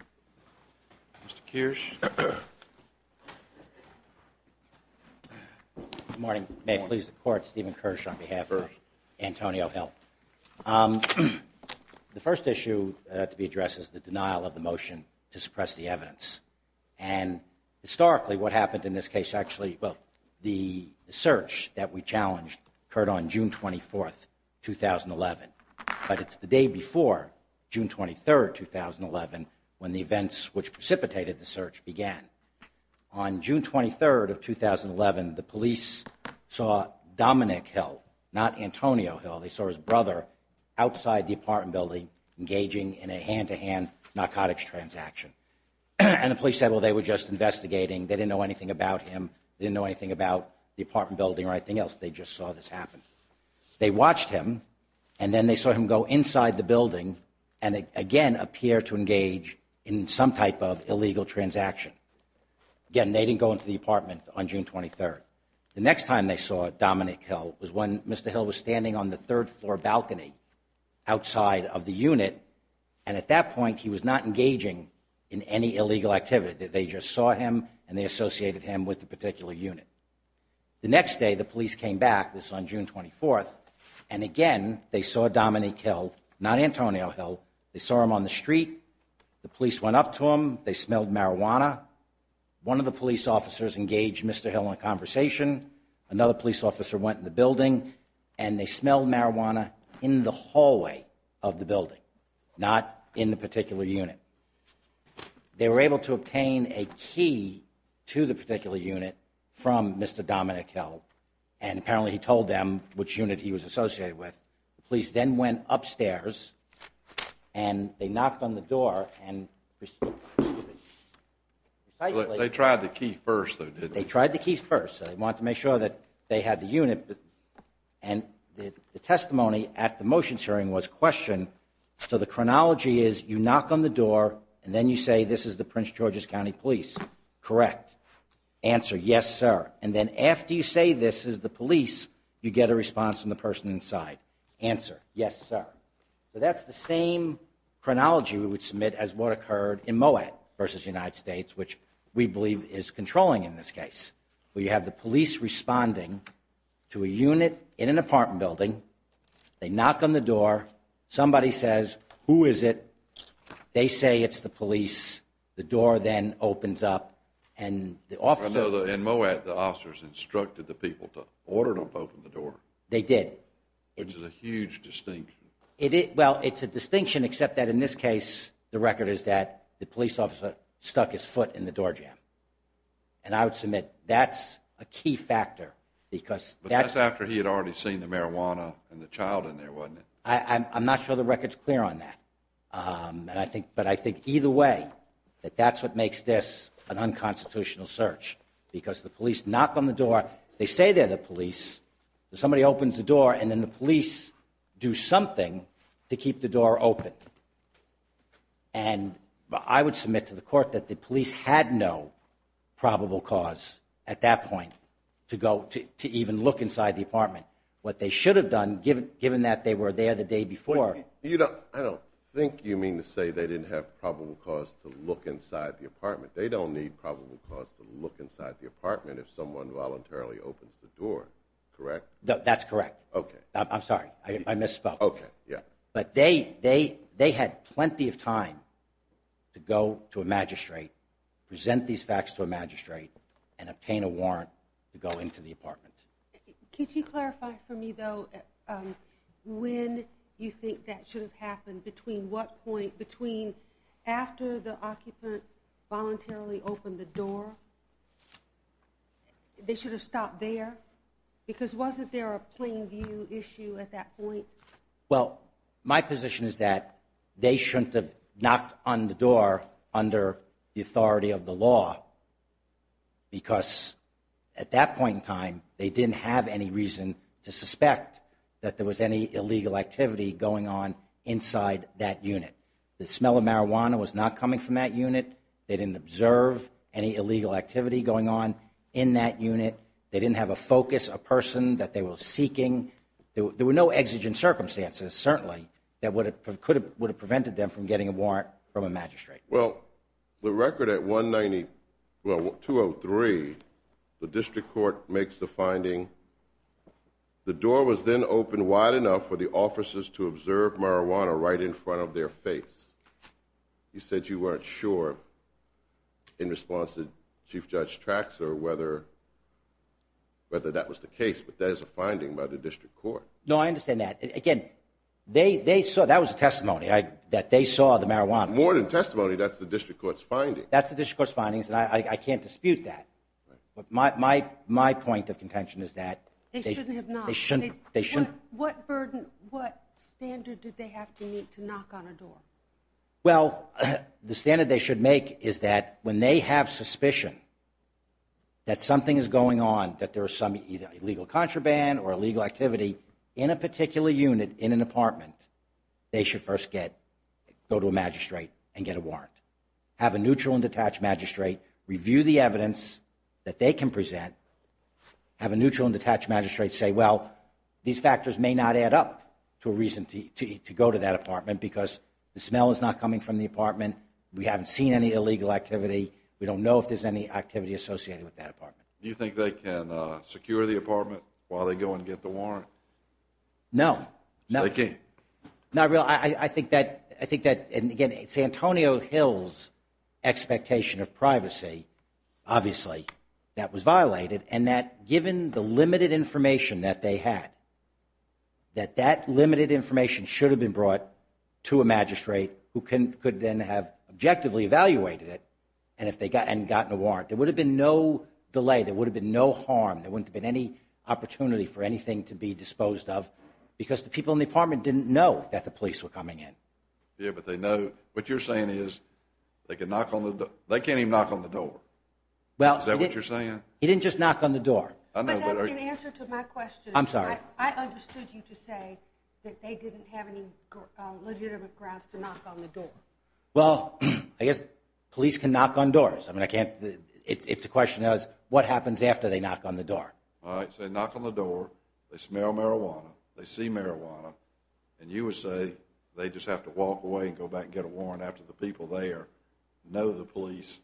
Mr. Kirsch. Good morning. May it please the Court, Stephen Kirsch on behalf of Antonio Hill. The first issue to be addressed is the denial of the motion to suppress the evidence. And historically what happened in this case actually, well, the search that we challenged occurred on June 24, 2011. But it's the day before, June 23, 2011, when the events which precipitated the search began. On June 23, 2011, the police saw Dominic Hill, not Antonio Hill. They saw his brother outside the apartment building engaging in a hand-to-hand narcotics transaction. And the police said, well, they were just investigating. They didn't know anything about him. They didn't know anything about the apartment building or anything else. They just saw this happen. They watched him, and then they saw him go inside the building and again appear to engage in some type of illegal transaction. Again, they didn't go into the apartment on June 23. The next time they saw Dominic Hill was when Mr. Hill was standing on the third-floor balcony outside of the unit, and at that point he was not engaging in any illegal activity. They just saw him, and they associated him with the particular unit. The next day the police came back, this was on June 24, and again they saw Dominic Hill, not Antonio Hill. They saw him on the street. The police went up to him. They smelled marijuana. One of the police officers engaged Mr. Hill in a conversation. Another police officer went in the building, and they smelled marijuana in the hallway of the building, not in the particular unit. They were able to obtain a key to the particular unit from Mr. Dominic Hill, and apparently he told them which unit he was associated with. The police then went upstairs, and they knocked on the door. They tried the key first, though, didn't they? They tried the key first. They wanted to make sure that they had the unit, and the testimony at the motions hearing was questioned. So the chronology is you knock on the door, and then you say this is the Prince George's County Police. Correct. Answer, yes, sir. And then after you say this is the police, you get a response from the person inside. Answer, yes, sir. So that's the same chronology we would submit as what occurred in Moab versus the United States, which we believe is controlling in this case, where you have the police responding to a unit in an apartment building. They knock on the door. Somebody says, who is it? They say it's the police. The door then opens up, and the officer— I know in Moab, the officers instructed the people to order them to open the door. They did. Which is a huge distinction. Well, it's a distinction, except that in this case, the record is that the police officer stuck his foot in the doorjamb. And I would submit that's a key factor, because— But that's after he had already seen the marijuana and the child in there, wasn't it? I'm not sure the record's clear on that. But I think either way that that's what makes this an unconstitutional search, because the police knock on the door. They say they're the police. Somebody opens the door, and then the police do something to keep the door open. And I would submit to the court that the police had no probable cause at that point to even look inside the apartment. What they should have done, given that they were there the day before— I don't think you mean to say they didn't have probable cause to look inside the apartment. They don't need probable cause to look inside the apartment if someone voluntarily opens the door, correct? That's correct. I'm sorry. I misspoke. Okay, yeah. But they had plenty of time to go to a magistrate, present these facts to a magistrate, and obtain a warrant to go into the apartment. Could you clarify for me, though, when you think that should have happened? Between what point—between after the occupant voluntarily opened the door, they should have stopped there? Because wasn't there a plain view issue at that point? Well, my position is that they shouldn't have knocked on the door under the authority of the law because at that point in time, they didn't have any reason to suspect that there was any illegal activity going on inside that unit. The smell of marijuana was not coming from that unit. They didn't observe any illegal activity going on in that unit. They didn't have a focus, a person that they were seeking. There were no exigent circumstances, certainly, that would have prevented them from getting a warrant from a magistrate. Well, the record at 190—well, 203, the district court makes the finding, the door was then opened wide enough for the officers to observe marijuana right in front of their face. You said you weren't sure in response to Chief Judge Traxor whether that was the case, but that is a finding by the district court. No, I understand that. Again, they saw—that was a testimony that they saw the marijuana. More than a testimony, that's the district court's finding. That's the district court's findings, and I can't dispute that. But my point of contention is that— They shouldn't have knocked. They shouldn't. What burden, what standard did they have to meet to knock on a door? Well, the standard they should make is that when they have suspicion that something is going on, that there is some illegal contraband or illegal activity in a particular unit in an apartment, they should first get—go to a magistrate and get a warrant. Have a neutral and detached magistrate review the evidence that they can present. Have a neutral and detached magistrate say, well, these factors may not add up to a reason to go to that apartment because the smell is not coming from the apartment. We haven't seen any illegal activity. We don't know if there's any activity associated with that apartment. Do you think they can secure the apartment while they go and get the warrant? No. They can't? Not really. Well, I think that—and again, it's Antonio Hill's expectation of privacy, obviously, that was violated, and that given the limited information that they had, that that limited information should have been brought to a magistrate who could then have objectively evaluated it and gotten a warrant. There would have been no delay. There would have been no harm. There wouldn't have been any opportunity for anything to be disposed of because the people in the apartment didn't know that the police were coming in. Yeah, but they know—what you're saying is they can knock on the—they can't even knock on the door. Is that what you're saying? He didn't just knock on the door. But that's in answer to my question. I'm sorry. I understood you to say that they didn't have any legitimate grounds to knock on the door. Well, I guess police can knock on doors. I mean, I can't—it's a question of what happens after they knock on the door. All right, so they knock on the door. They smell marijuana. They see marijuana, and you would say they just have to walk away and go back and get a warrant after the people there know the police,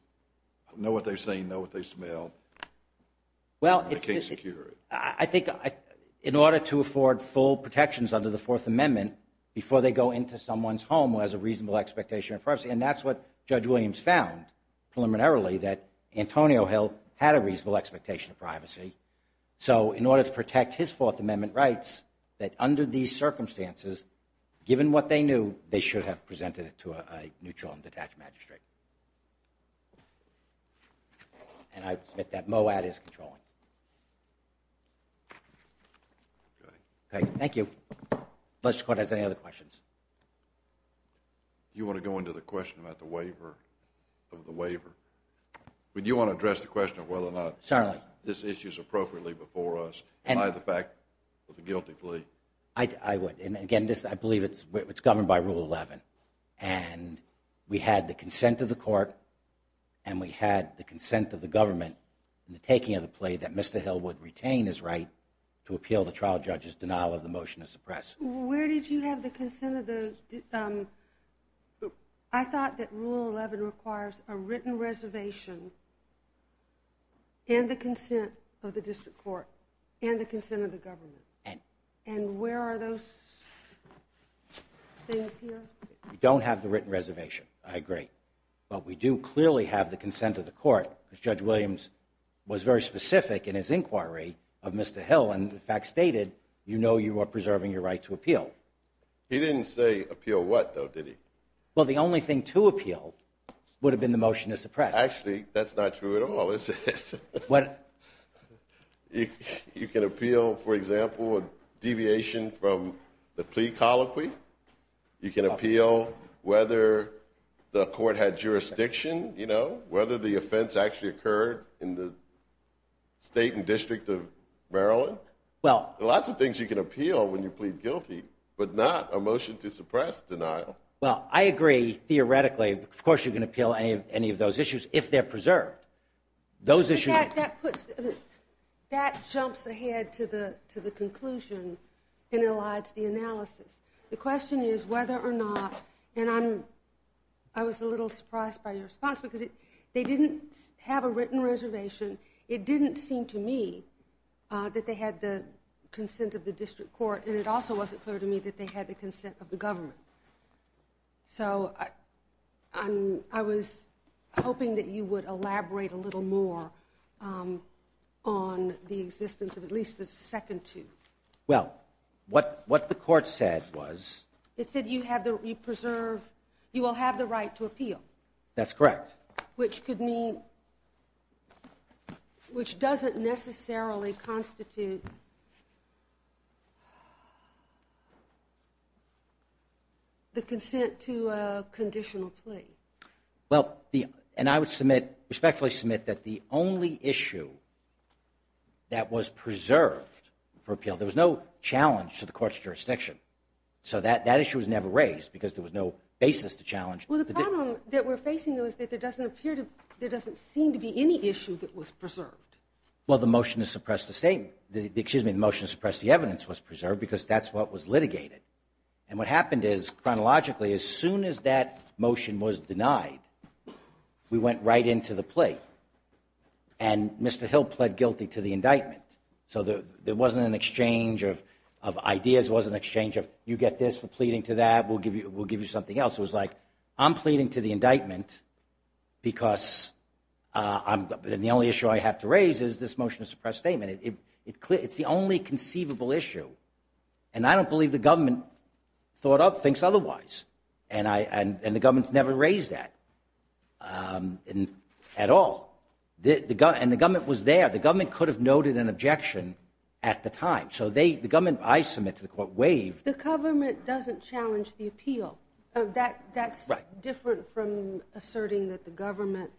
know what they've seen, know what they smell, and they can't secure it. I think in order to afford full protections under the Fourth Amendment before they go into someone's home who has a reasonable expectation of privacy, and that's what Judge Williams found preliminarily, that Antonio Hill had a reasonable expectation of privacy. So in order to protect his Fourth Amendment rights, that under these circumstances, given what they knew, they should have presented it to a neutral and detached magistrate. And I submit that MOAD is controlling. Okay. Thank you. Does the Court have any other questions? Do you want to go into the question about the waiver? Do you want to address the question of whether or not this issue is appropriately before us by the fact of the guilty plea? I would. And, again, I believe it's governed by Rule 11. And we had the consent of the Court, and we had the consent of the government in the taking of the plea that Mr. Hill would retain his right to appeal the trial judge's denial of the motion to suppress. Where did you have the consent of those? I thought that Rule 11 requires a written reservation and the consent of the District Court and the consent of the government. And where are those things here? We don't have the written reservation, I agree. But we do clearly have the consent of the Court, because Judge Williams was very specific in his inquiry of Mr. Hill and, in fact, stated, you know you are preserving your right to appeal. He didn't say appeal what, though, did he? Well, the only thing to appeal would have been the motion to suppress. Actually, that's not true at all, is it? You can appeal, for example, a deviation from the plea colloquy. Whether the offense actually occurred in the state and district of Maryland? There are lots of things you can appeal when you plead guilty, but not a motion to suppress denial. Well, I agree, theoretically. Of course you can appeal any of those issues if they're preserved. That jumps ahead to the conclusion and elides the analysis. The question is whether or not, and I was a little surprised by your response, because they didn't have a written reservation. It didn't seem to me that they had the consent of the district court, and it also wasn't clear to me that they had the consent of the government. So I was hoping that you would elaborate a little more on the existence of at least the second two. Well, what the court said was? It said you will have the right to appeal. That's correct. Which doesn't necessarily constitute the consent to a conditional plea. Well, and I would respectfully submit that the only issue that was preserved for appeal, there was no challenge to the court's jurisdiction. So that issue was never raised because there was no basis to challenge. Well, the problem that we're facing, though, is that there doesn't seem to be any issue that was preserved. Well, the motion to suppress the evidence was preserved because that's what was litigated. And what happened is, chronologically, as soon as that motion was denied, we went right into the plea, and Mr. Hill pled guilty to the indictment. So there wasn't an exchange of ideas. It wasn't an exchange of, you get this for pleading to that, we'll give you something else. It was like, I'm pleading to the indictment because the only issue I have to raise is this motion to suppress statement. It's the only conceivable issue. And I don't believe the government thought of things otherwise. And the government's never raised that at all. And the government was there. The government could have noted an objection at the time. So the government, I submit to the court, waived. The government doesn't challenge the appeal. That's different from asserting that the government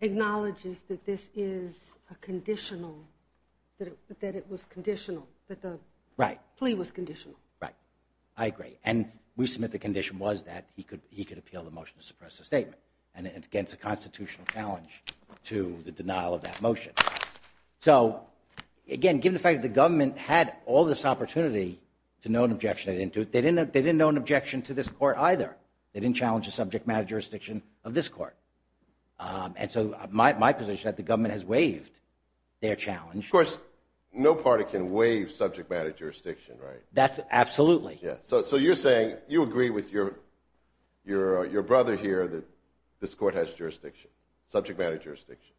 acknowledges that this is a conditional, that it was conditional, that the plea was conditional. Right. I agree. And we submit the condition was that he could appeal the motion to suppress the statement against a constitutional challenge to the denial of that motion. So, again, given the fact that the government had all this opportunity to note an objection, they didn't note an objection to this court either. They didn't challenge the subject matter jurisdiction of this court. And so my position is that the government has waived their challenge. Of course, no party can waive subject matter jurisdiction, right? Absolutely. So you're saying you agree with your brother here that this court has jurisdiction, subject matter jurisdiction?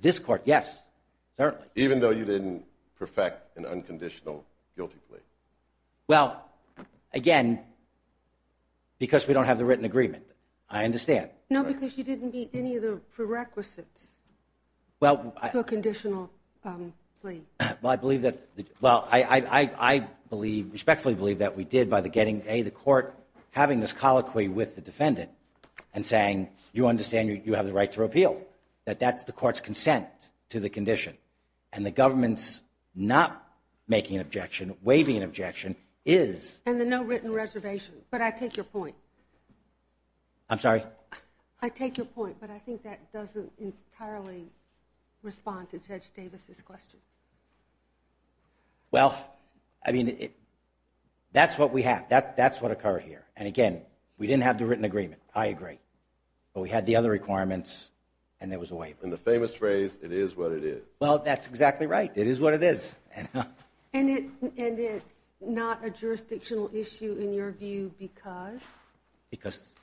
This court, yes, certainly. Even though you didn't perfect an unconditional guilty plea? Well, again, because we don't have the written agreement. I understand. No, because you didn't meet any of the prerequisites for a conditional plea. Well, I believe that, well, I respectfully believe that we did by getting, A, the court having this colloquy with the defendant and saying, and you understand you have the right to repeal, that that's the court's consent to the condition. And the government's not making an objection, waiving an objection is. And the no written reservation. But I take your point. I'm sorry? I take your point, but I think that doesn't entirely respond to Judge Davis's question. Well, I mean, that's what we have. That's what occurred here. And, again, we didn't have the written agreement. I agree. But we had the other requirements, and there was a waiver. And the famous phrase, it is what it is. Well, that's exactly right. It is what it is. And it's not a jurisdictional issue in your view because? Because,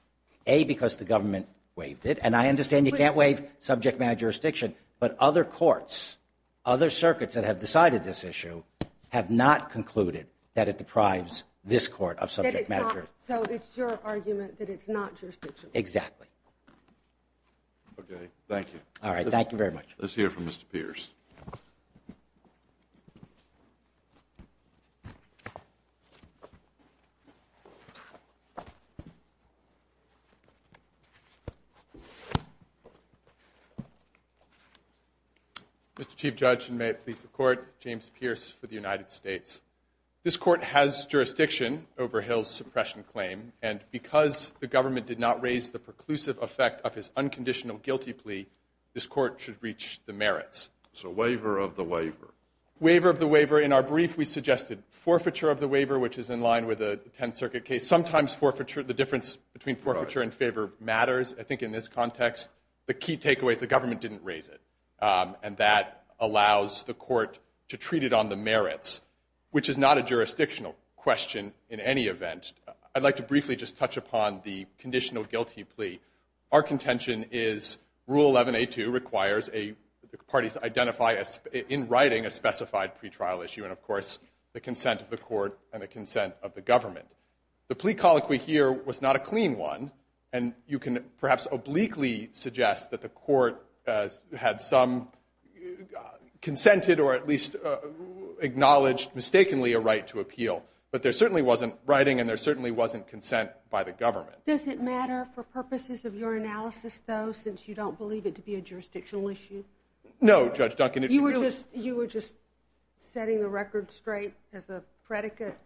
A, because the government waived it. And I understand you can't waive subject matter jurisdiction, but other courts, other circuits that have decided this issue have not concluded that it deprives this court of subject matter. So it's your argument that it's not jurisdictional? Exactly. Okay, thank you. All right, thank you very much. Let's hear from Mr. Pierce. Mr. Chief Judge, and may it please the Court, James Pierce for the United States. This court has jurisdiction over Hill's suppression claim, and because the government did not raise the preclusive effect of his unconditional guilty plea, this court should reach the merits. So waiver of the waiver. Waiver of the waiver. In our brief, we suggested forfeiture of the waiver, which is in line with a Tenth Circuit case. Sometimes the difference between forfeiture and favor matters, I think, in this context. The key takeaway is the government didn't raise it, and that allows the court to treat it on the merits, which is not a jurisdictional question in any event. I'd like to briefly just touch upon the conditional guilty plea. Our contention is Rule 11A2 requires parties to identify in writing a specified pretrial issue, and, of course, the consent of the court and the consent of the government. The plea colloquy here was not a clean one, and you can perhaps obliquely suggest that the court had some consented or at least acknowledged mistakenly a right to appeal, but there certainly wasn't writing and there certainly wasn't consent by the government. Does it matter for purposes of your analysis, though, since you don't believe it to be a jurisdictional issue? No, Judge Duncan. You were just setting the record straight as the predicate?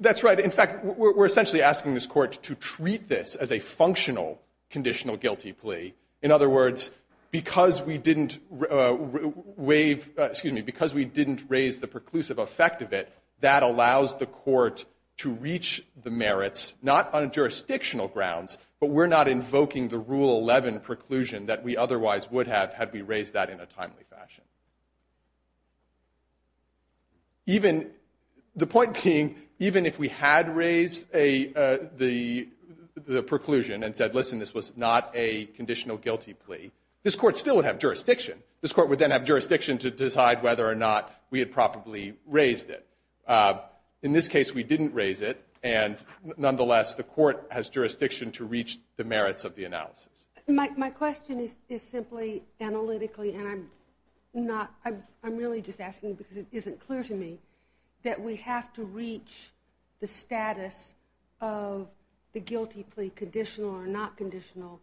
That's right. In fact, we're essentially asking this court to treat this as a functional conditional guilty plea. In other words, because we didn't raise the preclusive effect of it, that allows the court to reach the merits, not on jurisdictional grounds, but we're not invoking the Rule 11 preclusion that we otherwise would have had we raised that in a timely fashion. The point being, even if we had raised the preclusion and said, listen, this was not a conditional guilty plea, this court still would have jurisdiction. This court would then have jurisdiction to decide whether or not we had properly raised it. In this case, we didn't raise it, and nonetheless the court has jurisdiction to reach the merits of the analysis. My question is simply analytically, and I'm really just asking because it isn't clear to me, that we have to reach the status of the guilty plea conditional or not conditional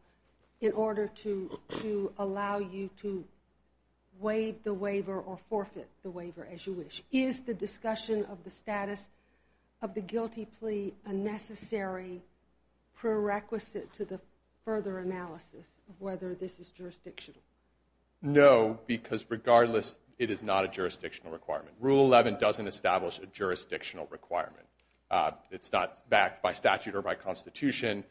in order to allow you to waive the waiver or forfeit the waiver as you wish. Is the discussion of the status of the guilty plea a necessary prerequisite to the further analysis of whether this is jurisdictional? No, because regardless, it is not a jurisdictional requirement. Rule 11 doesn't establish a jurisdictional requirement. It's not backed by statute or by constitution.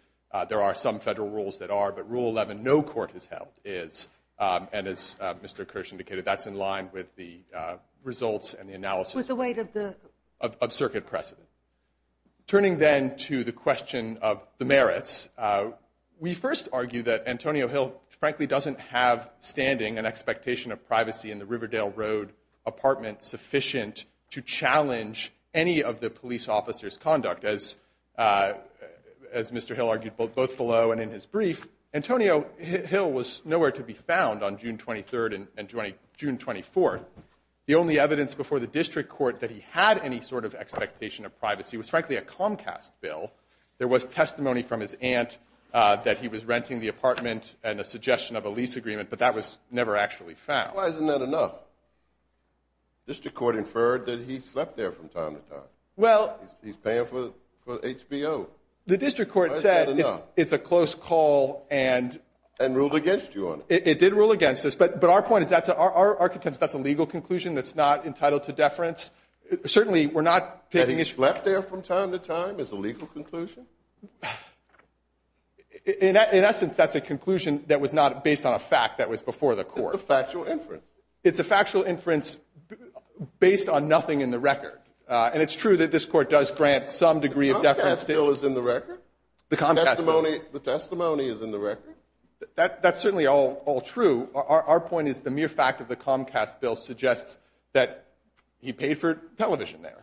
There are some federal rules that are, but Rule 11 no court has held is, and as Mr. Kirsch indicated, that's in line with the results and the analysis of circuit precedent. Turning then to the question of the merits, we first argue that Antonio Hill frankly doesn't have standing and expectation of privacy in the Riverdale Road apartment sufficient to challenge any of the police officer's conduct. As Mr. Hill argued both below and in his brief, Antonio Hill was nowhere to be found on June 23rd and June 24th. The only evidence before the district court that he had any sort of expectation of privacy was frankly a Comcast bill. There was testimony from his aunt that he was renting the apartment and a suggestion of a lease agreement, but that was never actually found. Why isn't that enough? The district court inferred that he slept there from time to time. Well. He's paying for HBO. The district court said it's a close call and. And ruled against you on it. It did rule against us, but our point is that's our contention. That's a legal conclusion that's not entitled to deference. Certainly we're not taking issue. Slept there from time to time is a legal conclusion. In essence, that's a conclusion that was not based on a fact that was before the court. It's a factual inference. It's a factual inference based on nothing in the record. And it's true that this court does grant some degree of deference. The Comcast bill is in the record? The Comcast bill. The testimony is in the record? That's certainly all true. Our point is the mere fact of the Comcast bill suggests that he paid for television there.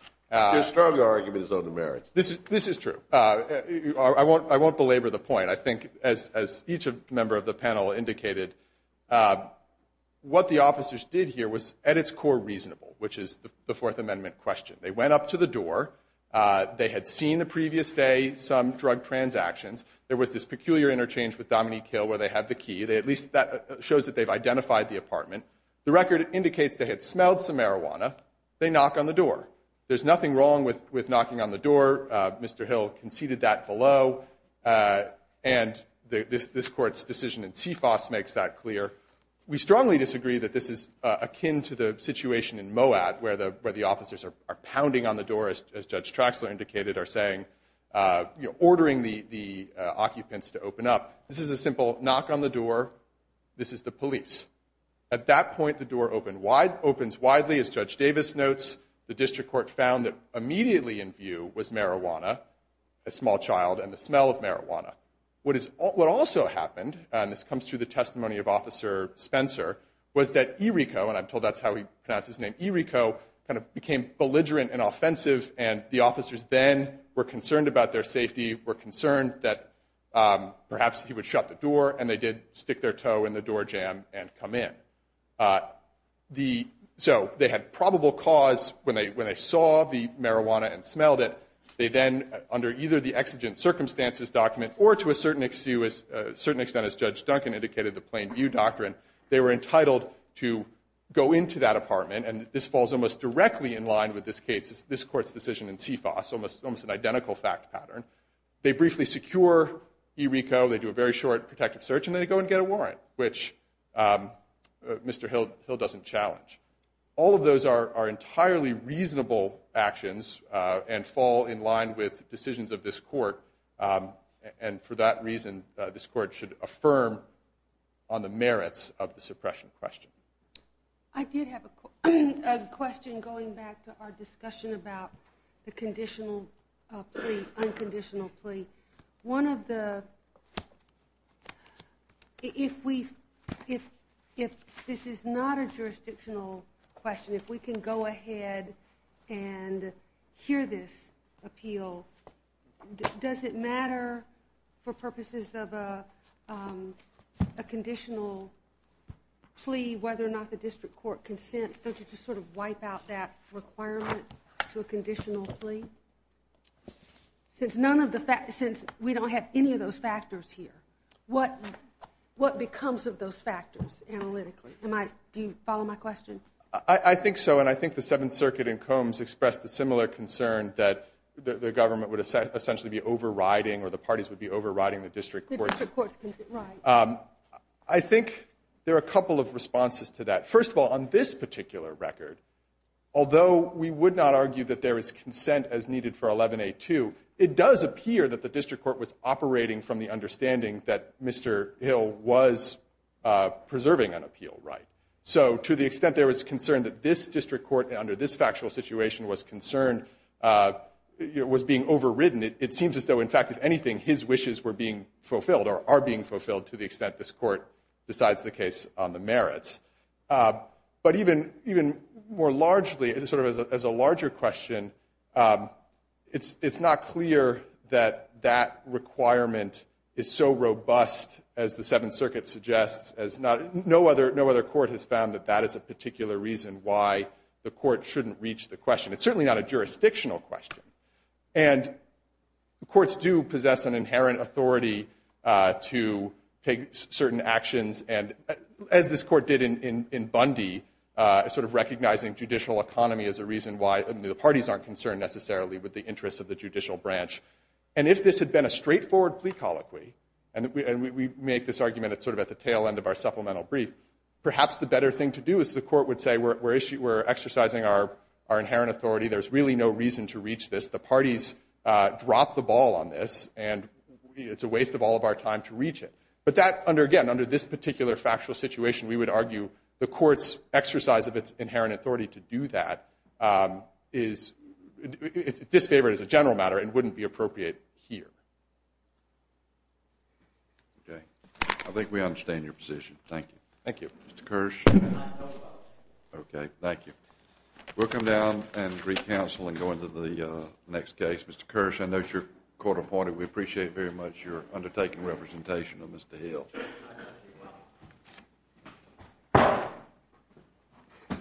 Your stronger argument is on the merits. This is true. I won't belabor the point. I think as each member of the panel indicated, what the officers did here was at its core reasonable, which is the Fourth Amendment question. They went up to the door. They had seen the previous day some drug transactions. There was this peculiar interchange with Dominique Hill where they had the key. At least that shows that they've identified the apartment. The record indicates they had smelled some marijuana. They knock on the door. There's nothing wrong with knocking on the door. Mr. Hill conceded that below. And this court's decision in CFOS makes that clear. We strongly disagree that this is akin to the situation in Moab where the officers are pounding on the door, as Judge Traxler indicated, are saying, ordering the occupants to open up. This is a simple knock on the door. This is the police. At that point, the door opens widely, as Judge Davis notes. The district court found that immediately in view was marijuana, a small child, and the smell of marijuana. What also happened, and this comes through the testimony of Officer Spencer, was that Iriko, and I'm told that's how he pronounced his name, Iriko, kind of became belligerent and offensive, and the officers then were concerned about their safety, were concerned that perhaps he would shut the door, and they did stick their toe in the door jamb and come in. So they had probable cause when they saw the marijuana and smelled it. They then, under either the exigent circumstances document or to a certain extent, as Judge Duncan indicated, the plain view doctrine, they were entitled to go into that apartment, and this falls almost directly in line with this court's decision in CFOS, almost an identical fact pattern. They briefly secure Iriko. They do a very short protective search, and then they go and get a warrant, which Mr. Hill doesn't challenge. All of those are entirely reasonable actions and fall in line with decisions of this court, and for that reason this court should affirm on the merits of the suppression question. I did have a question going back to our discussion about the conditional plea, unconditional plea. One of the, if we, if this is not a jurisdictional question, if we can go ahead and hear this appeal, does it matter for purposes of a conditional plea whether or not the district court consents? Don't you just sort of wipe out that requirement to a conditional plea? Since none of the, since we don't have any of those factors here, what becomes of those factors analytically? Am I, do you follow my question? I think so, and I think the Seventh Circuit in Combs expressed a similar concern that the government would essentially be overriding or the parties would be overriding the district courts. The district courts, right. I think there are a couple of responses to that. First of all, on this particular record, although we would not argue that there is consent as needed for 11A2, it does appear that the district court was operating from the understanding that Mr. Hill was preserving an appeal, right. So to the extent there was concern that this district court under this factual situation was concerned, was being overridden, it seems as though, in fact, if anything, his wishes were being fulfilled or are being fulfilled to the extent this court decides the case on the merits. But even more largely, sort of as a larger question, it's not clear that that requirement is so robust, as the Seventh Circuit suggests, as not, no other court has found that that is a particular reason why the court shouldn't reach the question. It's certainly not a jurisdictional question. And courts do possess an inherent authority to take certain actions, and as this court did in Bundy, sort of recognizing judicial economy as a reason why the parties aren't concerned necessarily with the interests of the judicial branch. And if this had been a straightforward plea colloquy, and we make this argument sort of at the tail end of our supplemental brief, perhaps the better thing to do is the court would say we're exercising our inherent authority, there's really no reason to reach this, the parties dropped the ball on this, and it's a waste of all of our time to reach it. But that, again, under this particular factual situation, we would argue the court's exercise of its inherent authority to do that is disfavored as a general matter and wouldn't be appropriate here. Okay. I think we understand your position. Thank you. Thank you. Mr. Kirsch? Okay. Thank you. We'll come down and re-counsel and go into the next case. Mr. Kirsch, I know you're court-appointed. We appreciate very much your undertaking representation of Mr. Hill. I appreciate it.